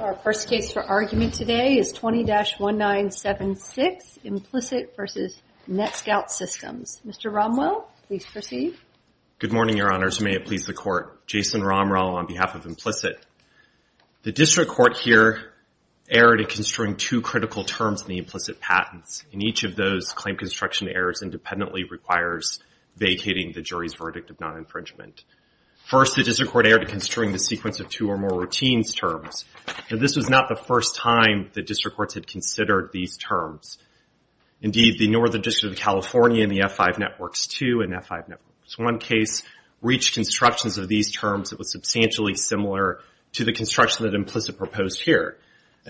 Our first case for argument today is 20-1976, Implicit v. NetScout Systems. Mr. Romwell, please proceed. Good morning, your honors. May it please the court. Jason Romwell on behalf of Implicit. The district court here erred in construing two critical terms in the implicit patents. In each of those, claim construction errors independently requires vacating the jury's verdict of non-infringement. First, the district court erred in construing the sequence of two or more routines terms. Now this was not the first time the district courts had considered these terms. Indeed, the Northern District of California in the F-5 Networks II and F-5 Networks I case reached constructions of these terms that was substantially similar to the construction that Implicit proposed here.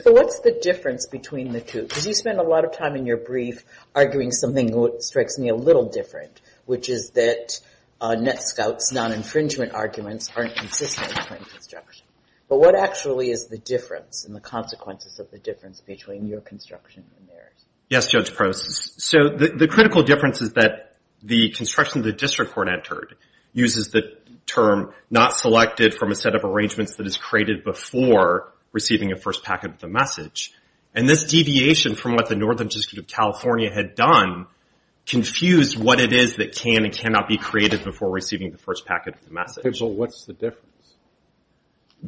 So what's the difference between the two? Because you spend a lot of time in your brief arguing something that strikes me a little different, which is that NetScout's non-infringement arguments aren't consistent with claim construction. But what actually is the difference and the consequences of the difference between your construction and theirs? Yes, Judge Prost. So the critical difference is that the construction the district court entered uses the term not selected from a set of arrangements that is created before receiving a first packet of the message. And this deviation from what the Northern District that can and cannot be created before receiving the first packet of the message. What's the difference?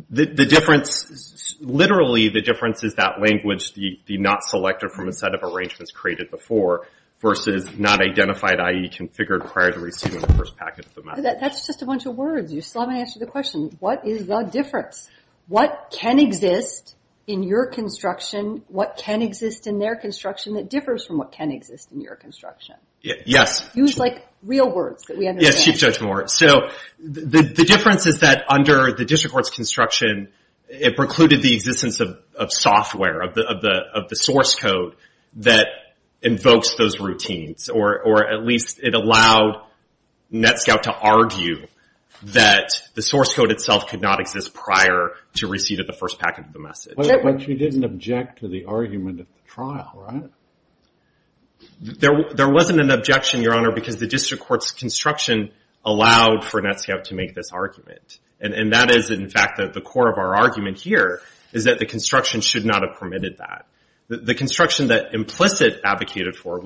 The difference, literally the difference is that language, the not selected from a set of arrangements created before versus not identified, i.e. configured prior to receiving the first packet of the message. That's just a bunch of words. You still haven't answered the question. What is the difference? What can exist in your construction, what can exist in their construction that differs from what can exist in your construction? Yes. Use like real words that we understand. Yes, Judge Moore. So the difference is that under the district court's construction, it precluded the existence of software, of the source code that invokes those routines. Or at least it allowed NETSCOUT to argue that the source code itself could not exist prior to receiving the first packet of the message. But you didn't object to the argument at the trial, right? There wasn't an objection, Your Honor, because the district court's construction allowed for NETSCOUT to make this argument. And that is, in fact, the core of our argument here is that the construction should not have permitted that. The construction that Implicit advocated for,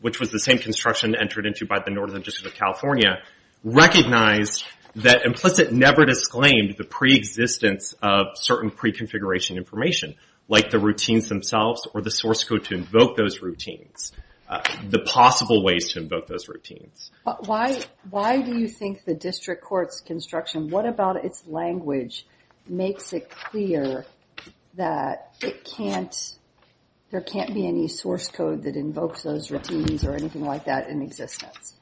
which was the same construction entered into by the Northern District of California, recognized that Implicit never disclaimed the pre-existence of certain pre-configuration information, like the routines themselves or the source code to invoke those routines, the possible ways to invoke those routines. Why do you think the district court's construction, what about its language, makes it clear that it can't, there can't be any source code that invokes those routines or anything like that in existence?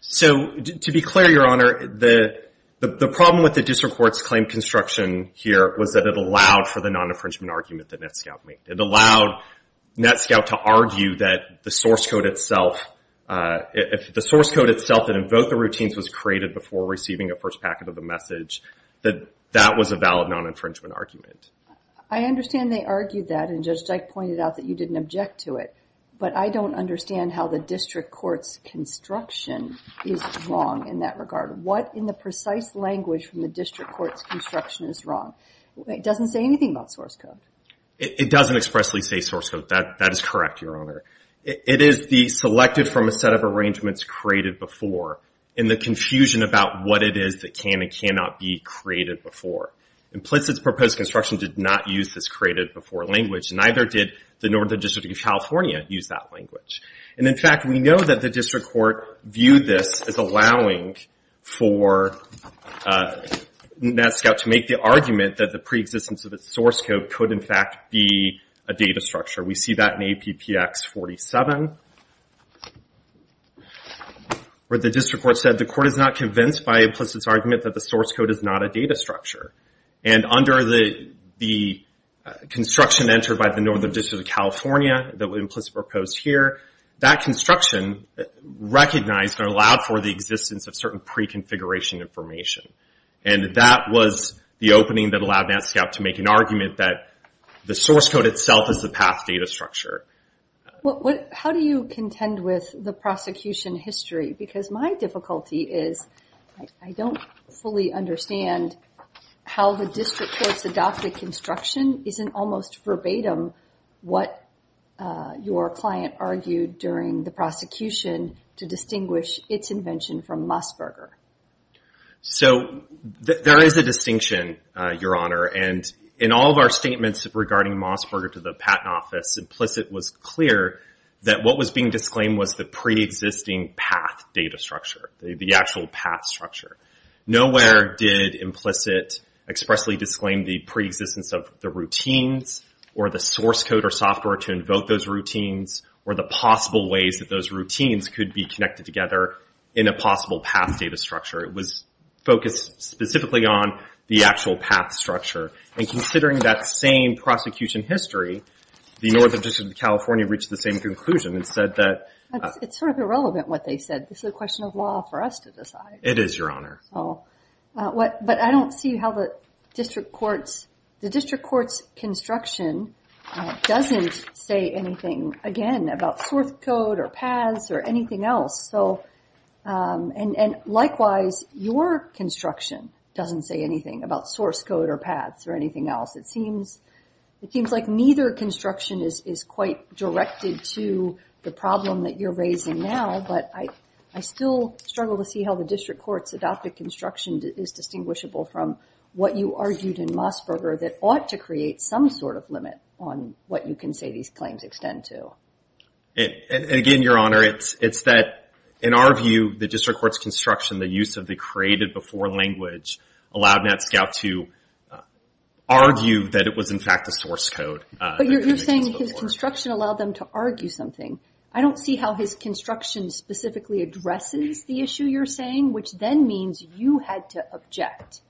So to be clear, Your Honor, the problem with the district court's claim construction here was that it allowed for the non-infringement argument that NETSCOUT made. It allowed NETSCOUT to argue that the source code itself, if the source code itself that invoked the routines was created before receiving a first packet of the message, that that was a valid non-infringement argument. I understand they argued that, and Judge Dyke pointed out that you didn't object to it, but I don't understand how the district court's construction is wrong in that regard. What in the precise language from the district court's construction is wrong? It doesn't say anything about source code. It doesn't expressly say source code. That is correct, Your Honor. It is the selected from a set of arrangements created before in the confusion about what it is that can and cannot be created before. Implicit's proposed construction did not use this created before language, and neither did the Northern District of California use that language, and in fact, we know that the district court viewed this as allowing for NETSCOUT to make the argument that the preexistence of its source code could in fact be a data structure. We see that in APPX 47, where the district court said the court is not convinced by Implicit's argument that the source code is not a data structure, and under the construction entered by the Northern District of California that Implicit proposed here, that construction recognized or allowed for the existence of certain pre-configuration information, and that was the opening that allowed NETSCOUT to make an argument that the source code itself is the path data structure. Well, how do you contend with the prosecution history? Because my difficulty is I don't fully understand how the district court's adopted construction isn't almost verbatim what your client argued during the prosecution to distinguish its invention from Mossberger. So, there is a distinction, Your Honor, and in all of our statements regarding Mossberger to the Patent Office, Implicit was clear that what was being disclaimed was the preexisting path data structure, the actual path structure. Nowhere did Implicit expressly disclaim the preexistence of the routines, or the source code or software to invoke those routines, or the possible ways that those routines could be connected together in a possible path data structure. It was focused specifically on the actual path structure, and considering that same prosecution history, the Northern District of California reached the same conclusion and said that. It's sort of irrelevant what they said. This is a question of law for us to decide. It is, Your Honor. But I don't see how the district court's, the district court's construction doesn't say anything, again, about source code, or paths, or anything else. So, and likewise, your construction doesn't say anything about source code, or paths, or anything else. It seems like neither construction is quite directed to the problem that you're raising now, but I still struggle to see how the district court's adopted construction is distinguishable from what you argued in Mossberger that ought to create some sort of limit on what you can say these claims extend to. And again, Your Honor, it's that, in our view, the district court's construction, the use of the created before language allowed NETSCOUT to argue that it was, in fact, a source code. But you're saying his construction allowed them to argue something. I don't see how his construction specifically addresses the issue you're saying, which then means you had to object.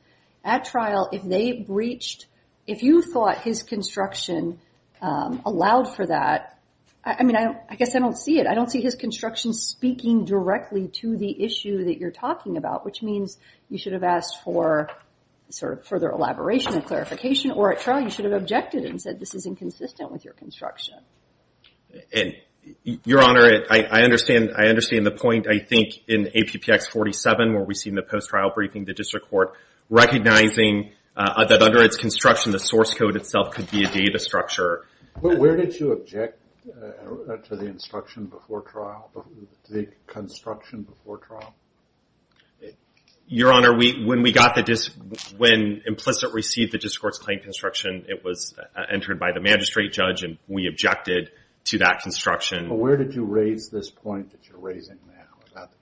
At trial, if they breached, if you thought his construction allowed for that, I mean, I guess I don't see it. I don't see his construction speaking directly to the issue that you're talking about, which means you should have asked for further elaboration and clarification. Or at trial, you should have objected and said this is inconsistent with your construction. And Your Honor, I understand the point. I think in APPX 47, where we see in the post-trial briefing, the district court recognizing that under its construction, the source code itself could be a data structure. But where did you object to the construction before trial? Your Honor, when implicit received the district court's claim construction, it was entered by the magistrate judge and we objected to that construction. But where did you raise this point that you're raising now about the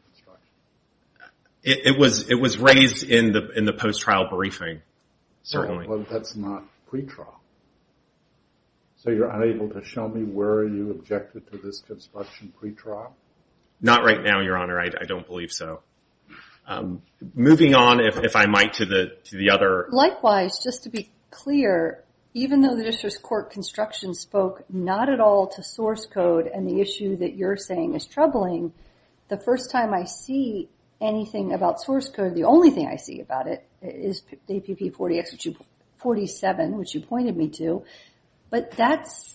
construction? It was raised in the post-trial briefing, certainly. That's not pre-trial. So you're unable to show me where you objected to this construction pre-trial? Not right now, Your Honor. I don't believe so. Moving on, if I might, to the other. Likewise, just to be clear, even though the district court construction spoke not at all to source code and the issue that you're saying is troubling, the first time I see anything about source code, the only thing I see about it is APPX 47, which you pointed me to. But that's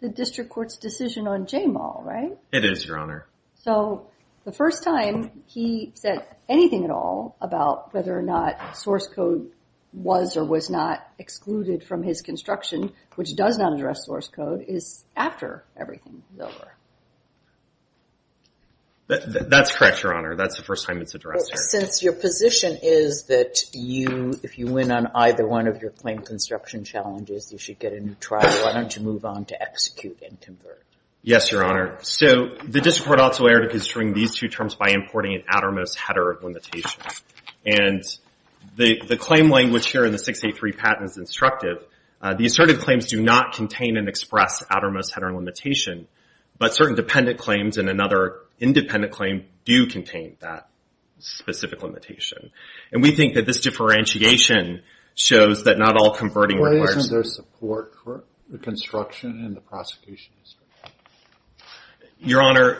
the district court's decision on JMAL, right? It is, Your Honor. So the first time he said anything at all about whether or not source code was or was not excluded from his construction, which does not address source code, is after everything is over. That's correct, Your Honor. That's the first time it's addressed. Since your position is that if you win on either one of your claim construction challenges, you should get a new trial, why don't you move on to execute and convert? Yes, Your Honor. So the district court also erred because during these two terms by importing an outermost header limitation. And the claim language here in the 683 patent is instructive. The asserted claims do not contain and express outermost header limitation, but certain dependent claims and another independent claim do contain that specific limitation. And we think that this differentiation shows that not all converting requires. Why isn't there support for the construction and the prosecution? Your Honor,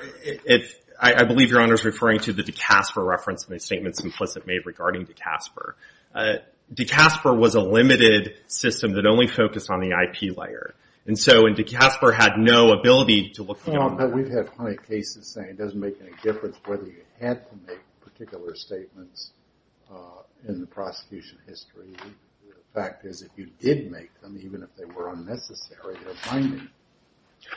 I believe Your Honor's referring to the DeCasper reference in the statements implicit made regarding DeCasper. DeCasper was a limited system that only focused on the IP layer. And so DeCasper had no ability to look beyond that. We've had plenty of cases saying it doesn't make any difference whether you had to make particular statements in the prosecution history. The fact is if you did make them, even if they were unnecessary, they're binding.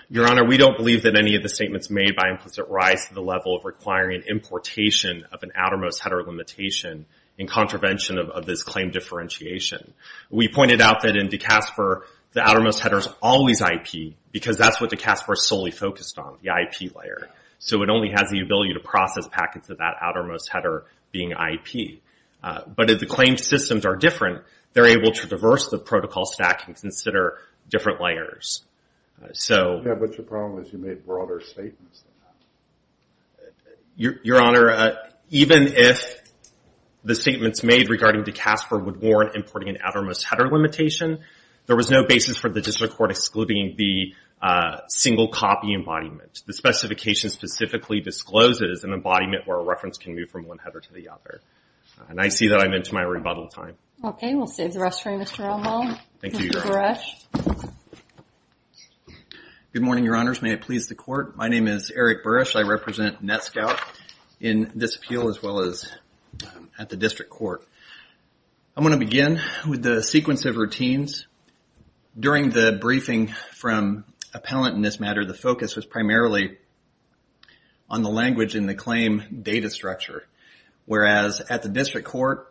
Your Honor, we don't believe that any of the statements made by implicit rise to the level of requiring an importation of an outermost header limitation in contravention of this claim differentiation. We pointed out that in DeCasper, the outermost header's always IP because that's what DeCasper's solely focused on, the IP layer. So it only has the ability to process packets of that outermost header being IP. But if the claim systems are different, they're able to diverse the protocol stack and consider different layers. So. Yeah, but your problem is you made broader statements. Your Honor, even if the statements made regarding DeCasper would warrant importing an outermost header limitation, there was no basis for the district court excluding the single copy embodiment. The specification specifically discloses an embodiment where a reference can move from one header to the other. And I see that I'm into my rebuttal time. Okay, we'll save the rest for you, Mr. Romo. Thank you, Your Honor. Eric Burrush. Good morning, Your Honors. May it please the court. My name is Eric Burrush. I represent NETSCOUT in this appeal as well as at the district court. I'm gonna begin with the sequence of routines. During the briefing from appellant in this matter, the focus was primarily on the language in the claim data structure. Whereas at the district court,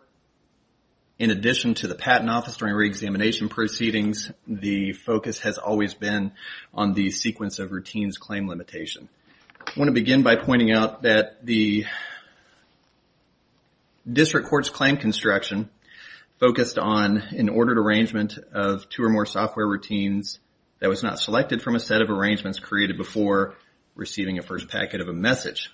in addition to the patent office during reexamination proceedings, the focus has always been on the sequence of routines claim limitation. I wanna begin by pointing out that the district court's claim construction focused on an ordered arrangement of two or more software routines that was not selected from a set of arrangements created before receiving a first packet of a message.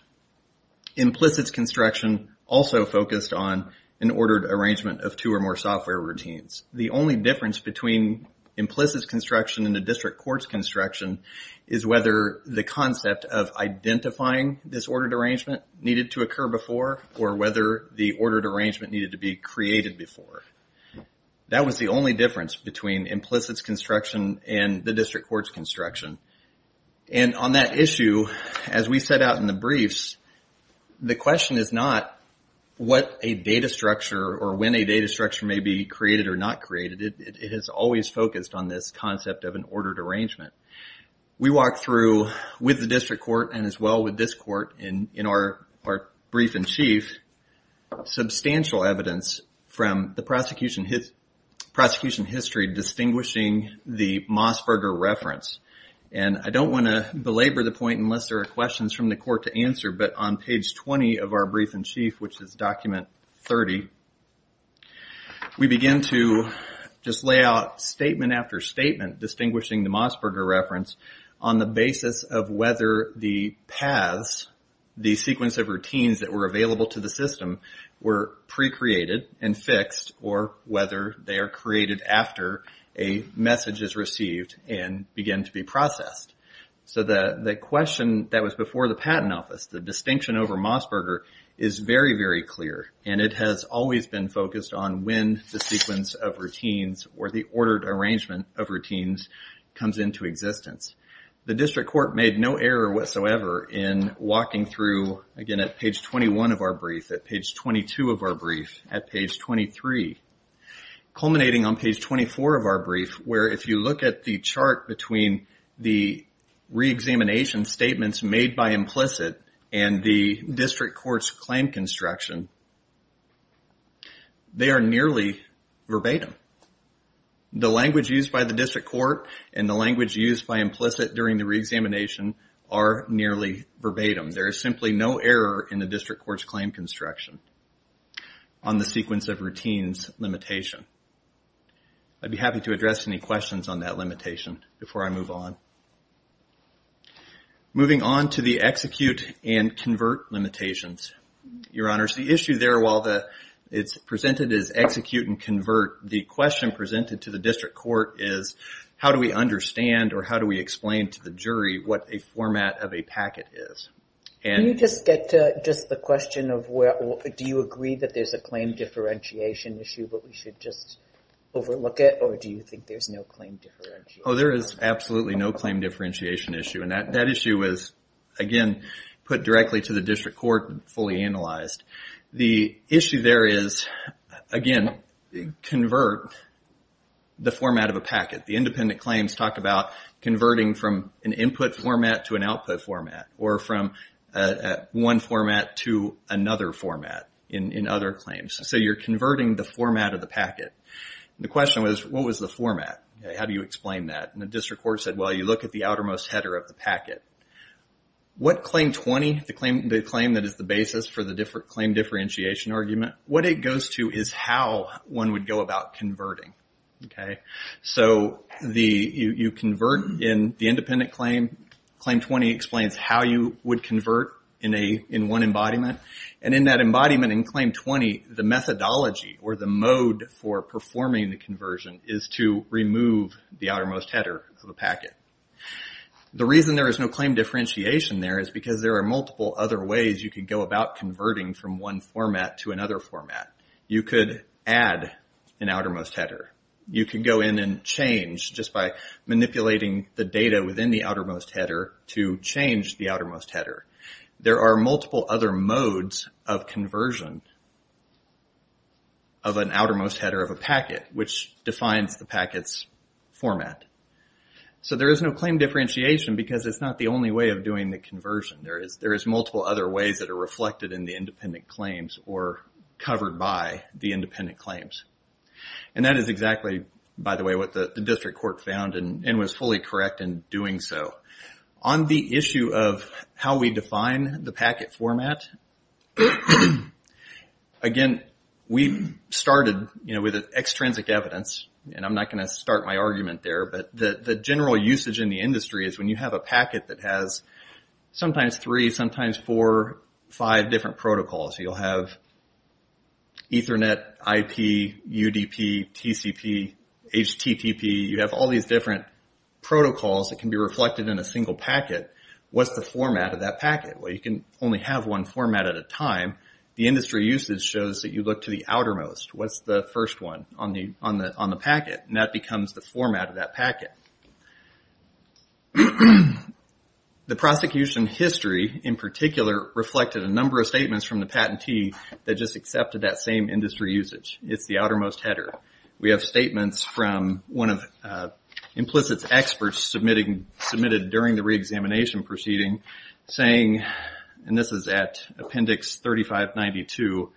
Implicit's construction also focused on an ordered arrangement of two or more software routines. The only difference between implicit's construction and the district court's construction is whether the concept of identifying this ordered arrangement needed to occur before or whether the ordered arrangement needed to be created before. That was the only difference between implicit's construction and the district court's construction and on that issue, as we set out in the briefs, the question is not what a data structure or when a data structure may be created or not created, it is always focused on this concept of an ordered arrangement. We walked through with the district court and as well with this court in our brief in chief, substantial evidence from the prosecution history distinguishing the Mossberger reference. And I don't wanna belabor the point unless there are questions from the court to answer but on page 20 of our brief in chief, which is document 30, we begin to just lay out statement after statement distinguishing the Mossberger reference on the basis of whether the paths, the sequence of routines that were available to the system were pre-created and fixed or whether they are created after a message is received and begin to be processed. So the question that was before the patent office, the distinction over Mossberger is very, very clear and it has always been focused on when the sequence of routines or the ordered arrangement of routines comes into existence. The district court made no error whatsoever in walking through, again, at page 21 of our brief, at page 22 of our brief, at page 23, where if you look at the chart between the re-examination statements made by implicit and the district court's claim construction, they are nearly verbatim. The language used by the district court and the language used by implicit during the re-examination are nearly verbatim. There is simply no error in the district court's claim construction on the sequence of routines limitation. I'd be happy to address any questions on that limitation before I move on. Moving on to the execute and convert limitations. Your honors, the issue there, while it's presented as execute and convert, the question presented to the district court is how do we understand or how do we explain to the jury what a format of a packet is? And- Can you just get to just the question of where, do you agree that there's a claim differentiation issue that we should just overlook it, or do you think there's no claim differentiation? Oh, there is absolutely no claim differentiation issue. And that issue is, again, put directly to the district court and fully analyzed. The issue there is, again, convert the format of a packet. The independent claims talk about converting from an input format to an output format, or from one format to another format in other claims. So you're converting the format of the packet. The question was, what was the format? How do you explain that? And the district court said, well, you look at the outermost header of the packet. What claim 20, the claim that is the basis for the different claim differentiation argument, what it goes to is how one would go about converting, okay? So you convert in the independent claim. Claim 20 explains how you would convert in one embodiment. And in that embodiment in claim 20, the methodology or the mode for performing the conversion is to remove the outermost header of the packet. The reason there is no claim differentiation there is because there are multiple other ways you could go about converting from one format to another format. You could add an outermost header. You could go in and change just by manipulating the data within the outermost header to change the outermost header. There are multiple other modes of conversion of an outermost header of a packet which defines the packet's format. So there is no claim differentiation because it's not the only way of doing the conversion. There is multiple other ways that are reflected in the independent claims or covered by the independent claims. And that is exactly, by the way, what the district court found and was fully correct in doing so. On the issue of how we define the packet format, again, we started with extrinsic evidence, and I'm not gonna start my argument there, but the general usage in the industry is when you have a packet that has sometimes three, sometimes four, five different protocols. You'll have Ethernet, IP, UDP, TCP, HTTP. You have all these different protocols that can be reflected in a single packet. What's the format of that packet? Well, you can only have one format at a time. The industry usage shows that you look to the outermost. What's the first one on the packet? And that becomes the format of that packet. The prosecution history, in particular, reflected a number of statements from the patentee that just accepted that same industry usage. It's the outermost header. We have statements from one of Implicit's experts submitted during the reexamination proceeding saying, and this is at appendix 3592,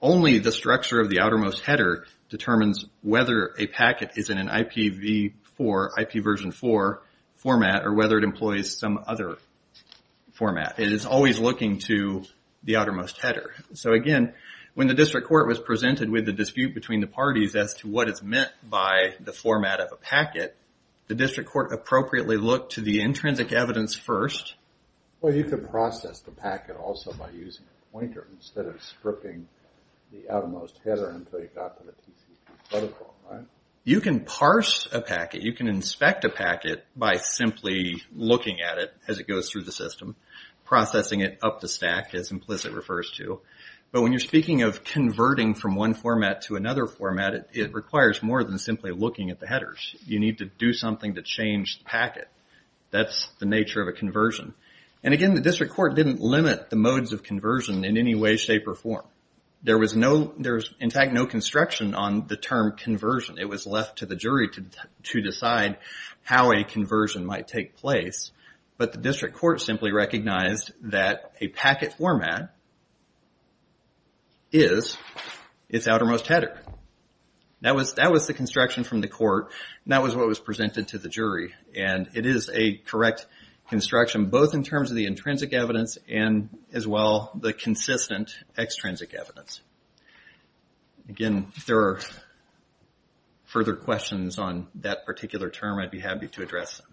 only the structure of the outermost header determines whether a packet is in an IPv4, IP version four format, or whether it employs some other format. It is always looking to the outermost header. So again, when the district court was presented as to what is meant by the format of a packet, the district court appropriately looked to the intrinsic evidence first. Well, you could process the packet also by using a pointer instead of scripting the outermost header until you got to the TCP protocol, right? You can parse a packet, you can inspect a packet by simply looking at it as it goes through the system, processing it up the stack, as Implicit refers to. But when you're speaking of converting from one format to another format, it requires more than simply looking at the headers. You need to do something to change the packet. That's the nature of a conversion. And again, the district court didn't limit the modes of conversion in any way, shape, or form. There was in fact no construction on the term conversion. It was left to the jury to decide how a conversion might take place. But the district court simply recognized that a packet format is its outermost header. That was the construction from the court, and that was what was presented to the jury. And it is a correct construction, both in terms of the intrinsic evidence and as well the consistent extrinsic evidence. Again, if there are further questions on that particular term, I'd be happy to address them.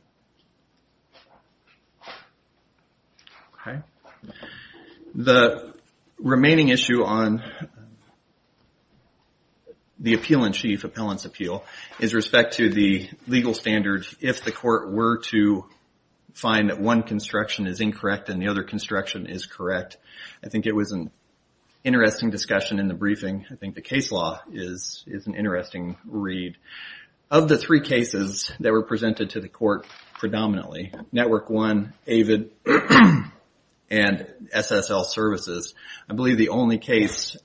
Okay, the remaining issue on the Appeal-in-Chief, Appellant's Appeal, is respect to the legal standard if the court were to find that one construction is incorrect and the other construction is correct. I think it was an interesting discussion in the briefing. I think the case law is an interesting read. Of the three cases that were presented to the court predominantly, Network One, AVID, and SSL Services, I believe the only case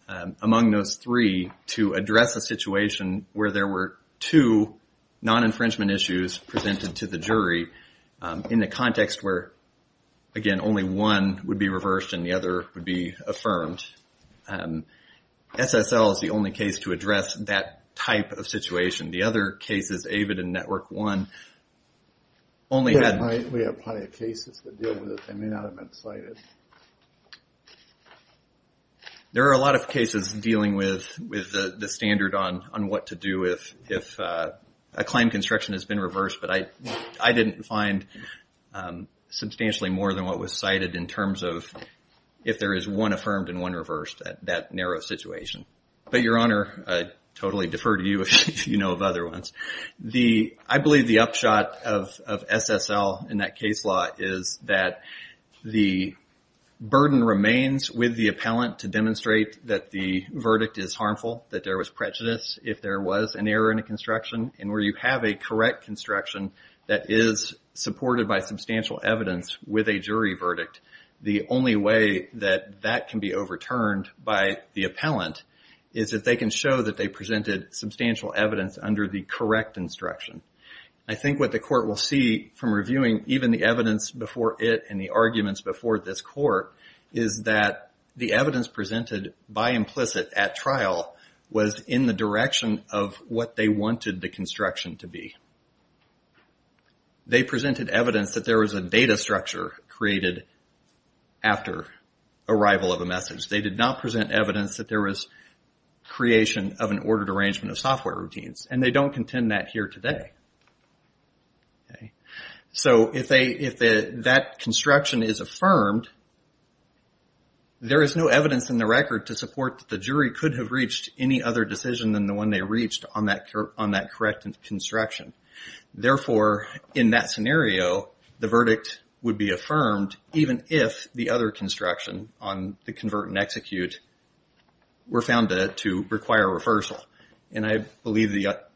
among those three to address a situation where there were two non-infringement issues presented to the jury in a context where, again, only one would be reversed and the other would be affirmed. SSL is the only case to address that type of situation. The other cases, AVID and Network One, only had... We have plenty of cases that deal with it. They may not have been cited. There are a lot of cases dealing with the standard on what to do if a claim construction has been reversed, but I didn't find substantially more than what was cited in terms of if there is one affirmed and one reversed at that narrow situation. But, Your Honor, I totally defer to you if you know of other ones. I believe the upshot of SSL in that case law is that the burden remains with the appellant to demonstrate that the verdict is harmful, that there was prejudice if there was an error in a construction, and where you have a correct construction that is supported by substantial evidence with a jury verdict, the only way that that can be overturned by the appellant is if they can show that they presented substantial evidence under the correct instruction. I think what the court will see from reviewing even the evidence before it and the arguments before this court is that the evidence presented by implicit at trial was in the direction of what they wanted the construction to be. They presented evidence that there was a data structure created after arrival of a message. They did not present evidence that there was creation of an ordered arrangement of software routines, and they don't contend that here today. So, if that construction is affirmed, there is no evidence in the record to support that the jury could have reached any other decision than the one they reached on that correct construction. Therefore, in that scenario, the verdict would be affirmed even if the other construction on the convert and execute were found to require a reversal. And I believe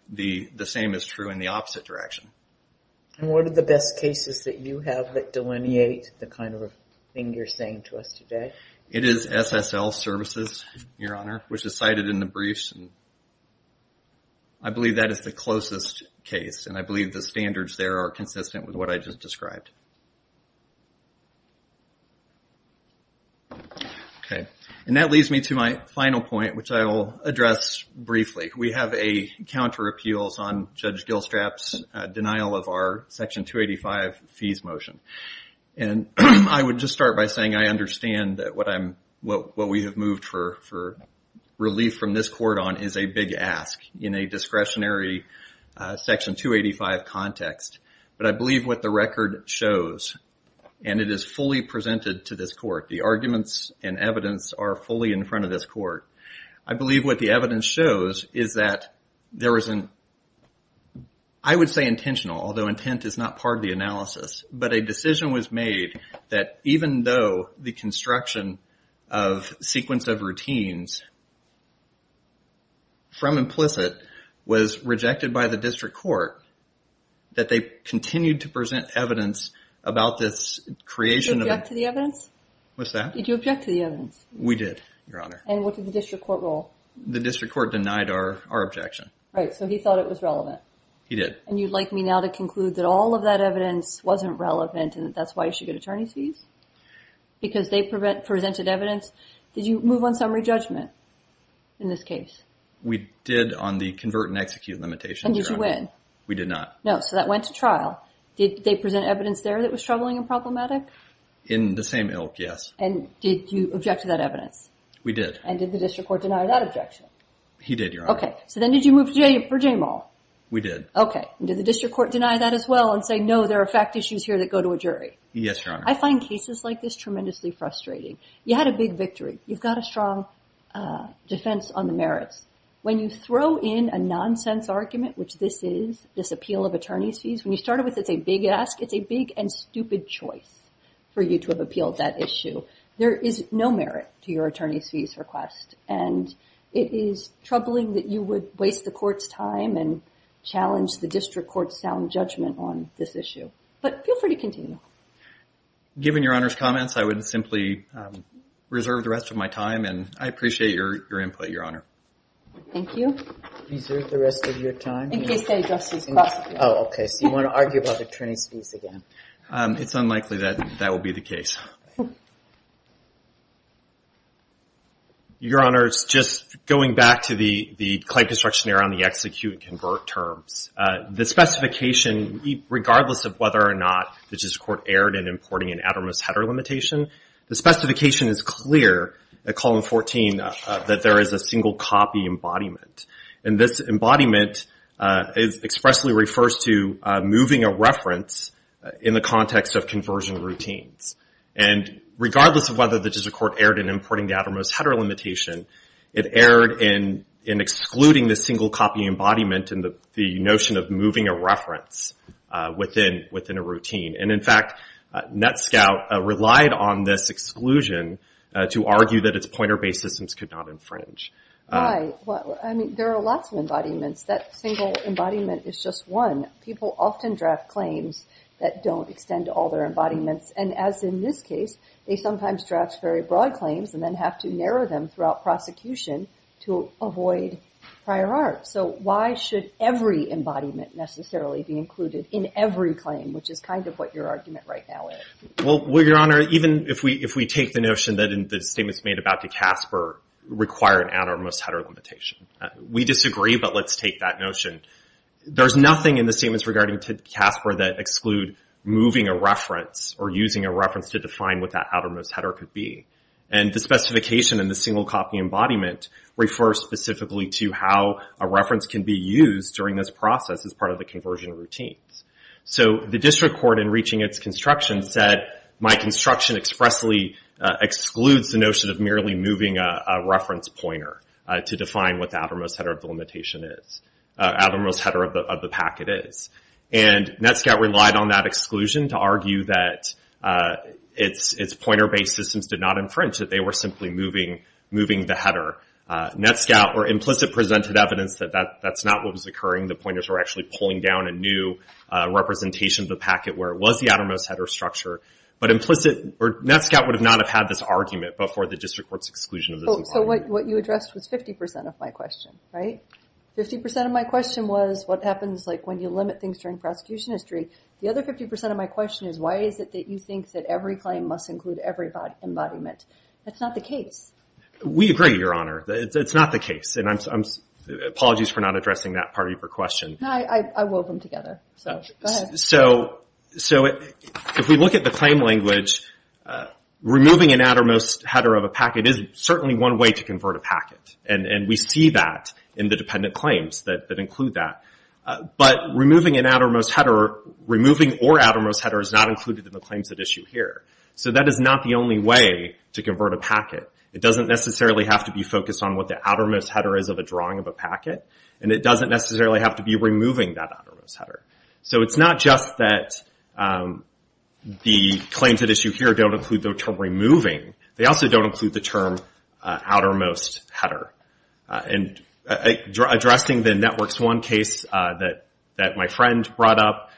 the same is true in the opposite direction. And what are the best cases that you have that delineate the kind of thing you're saying to us today? It is SSL Services, Your Honor, which is cited in the briefs. I believe that is the closest case, and I believe the standards there are consistent with what I just described. Okay, and that leads me to my final point, which I will address briefly. We have a counter appeals on Judge Gilstrap's denial of our Section 285 fees motion. And I would just start by saying I understand that what we have moved for relief from this court on is a big ask in a discretionary Section 285 context. But I believe what the record shows, and it is fully presented to this court, the arguments and evidence are fully in front of this court. I believe what the evidence shows is that there is an, I would say intentional, although intent is not part of the analysis, but a decision was made that even though the construction of sequence of routines from implicit was rejected by the district court, that they continued to present evidence about this creation of a- Did you object to the evidence? What's that? Did you object to the evidence? We did, Your Honor. And what did the district court rule? The district court denied our objection. Right, so he thought it was relevant. He did. And you'd like me now to conclude that all of that evidence wasn't relevant, and that's why you should get attorney's fees? Because they presented evidence? Did you move on summary judgment in this case? We did on the convert and execute limitations, Your Honor. And did you win? We did not. No, so that went to trial. Did they present evidence there that was troubling and problematic? In the same ilk, yes. And did you object to that evidence? We did. And did the district court deny that objection? He did, Your Honor. Okay, so then did you move for J-Mall? We did. Okay, and did the district court deny that as well and say, no, there are fact issues here that go to a jury? Yes, Your Honor. I find cases like this tremendously frustrating. You had a big victory. You've got a strong defense on the merits. When you throw in a nonsense argument, which this is, this appeal of attorney's fees, when you start it with it's a big ask, it's a big and stupid choice for you to have appealed that issue. There is no merit to your attorney's fees request. And it is troubling that you would waste the court's time and challenge the district court's sound judgment on this issue. But feel free to continue. Given Your Honor's comments, I would simply reserve the rest of my time, and I appreciate your input, Your Honor. Thank you. Reserve the rest of your time? In case they address this question. Oh, okay, so you want to argue about attorney's fees again. It's unlikely that that will be the case. Your Honor, just going back to the client construction error on the execute and convert terms. The specification, regardless of whether or not the district court erred in importing an ad hominis header limitation, the specification is clear at column 14 that there is a single copy embodiment. And this embodiment expressly refers to moving a reference in the context of conversion routines. And regardless of whether the district court erred in importing the ad hominis header limitation, it erred in excluding the single copy embodiment in the notion of moving a reference within a routine. And in fact, NetScout relied on this exclusion to argue that its pointer-based systems could not infringe. Right, well, I mean, there are lots of embodiments. That single embodiment is just one. People often draft claims that don't extend to all their embodiments. And as in this case, they sometimes draft very broad claims and then have to narrow them throughout prosecution to avoid prior art. So why should every embodiment necessarily be included in every claim, which is kind of what your argument right now is? Well, Your Honor, even if we take the notion that the statements made about De Casper require an outermost header limitation. We disagree, but let's take that notion. There's nothing in the statements regarding De Casper that exclude moving a reference or using a reference to define what that outermost header could be. And the specification in the single copy embodiment refers specifically to how a reference can be used during this process as part of the conversion routines. So the district court, in reaching its construction, said my construction expressly excludes the notion of merely moving a reference pointer to define what the outermost header of the limitation is, outermost header of the packet is. And NETSCOUT relied on that exclusion to argue that its pointer-based systems did not infringe, that they were simply moving the header. NETSCOUT were implicit presented evidence that that's not what was occurring. The pointers were actually pulling down a new representation of the packet where it was the outermost header structure. But implicit, NETSCOUT would not have had this argument before the district court's exclusion of this embodiment. So what you addressed was 50% of my question, right? 50% of my question was what happens like when you limit things during prosecution history. The other 50% of my question is why is it that you think that every claim must include every embodiment? That's not the case. We agree, Your Honor, it's not the case. And apologies for not addressing that part of your question. No, I wove them together. So go ahead. So if we look at the claim language, removing an outermost header of a packet is certainly one way to convert a packet. And we see that in the dependent claims that include that. But removing an outermost header, removing or outermost header is not included in the claims at issue here. So that is not the only way to convert a packet. It doesn't necessarily have to be focused on what the outermost header is of a drawing of a packet. And it doesn't necessarily have to be removing that outermost header. So it's not just that the claims at issue here don't include the term removing. They also don't include the term outermost header. And addressing the Networks 1 case that my friend brought up,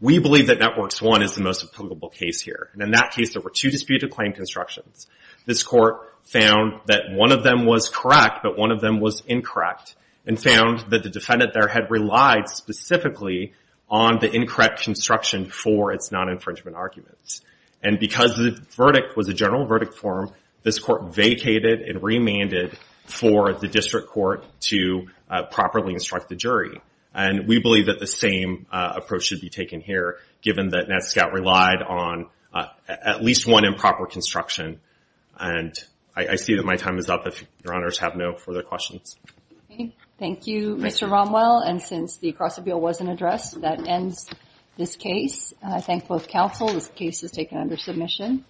we believe that Networks 1 is the most applicable case here. And in that case, there were two disputed claim constructions. This court found that one of them was correct, but one of them was incorrect, and found that the defendant there had relied specifically on the incorrect construction for its non-infringement arguments. And because the verdict was a general verdict form, this court vacated and remanded for the district court to properly instruct the jury. And we believe that the same approach should be taken here, given that NETSCOUT relied on at least one improper construction. And I see that my time is up if your honors have no further questions. Thank you, Mr. Romwell. And since the cross-appeal wasn't addressed, that ends this case. I thank both counsel. This case is taken under submission.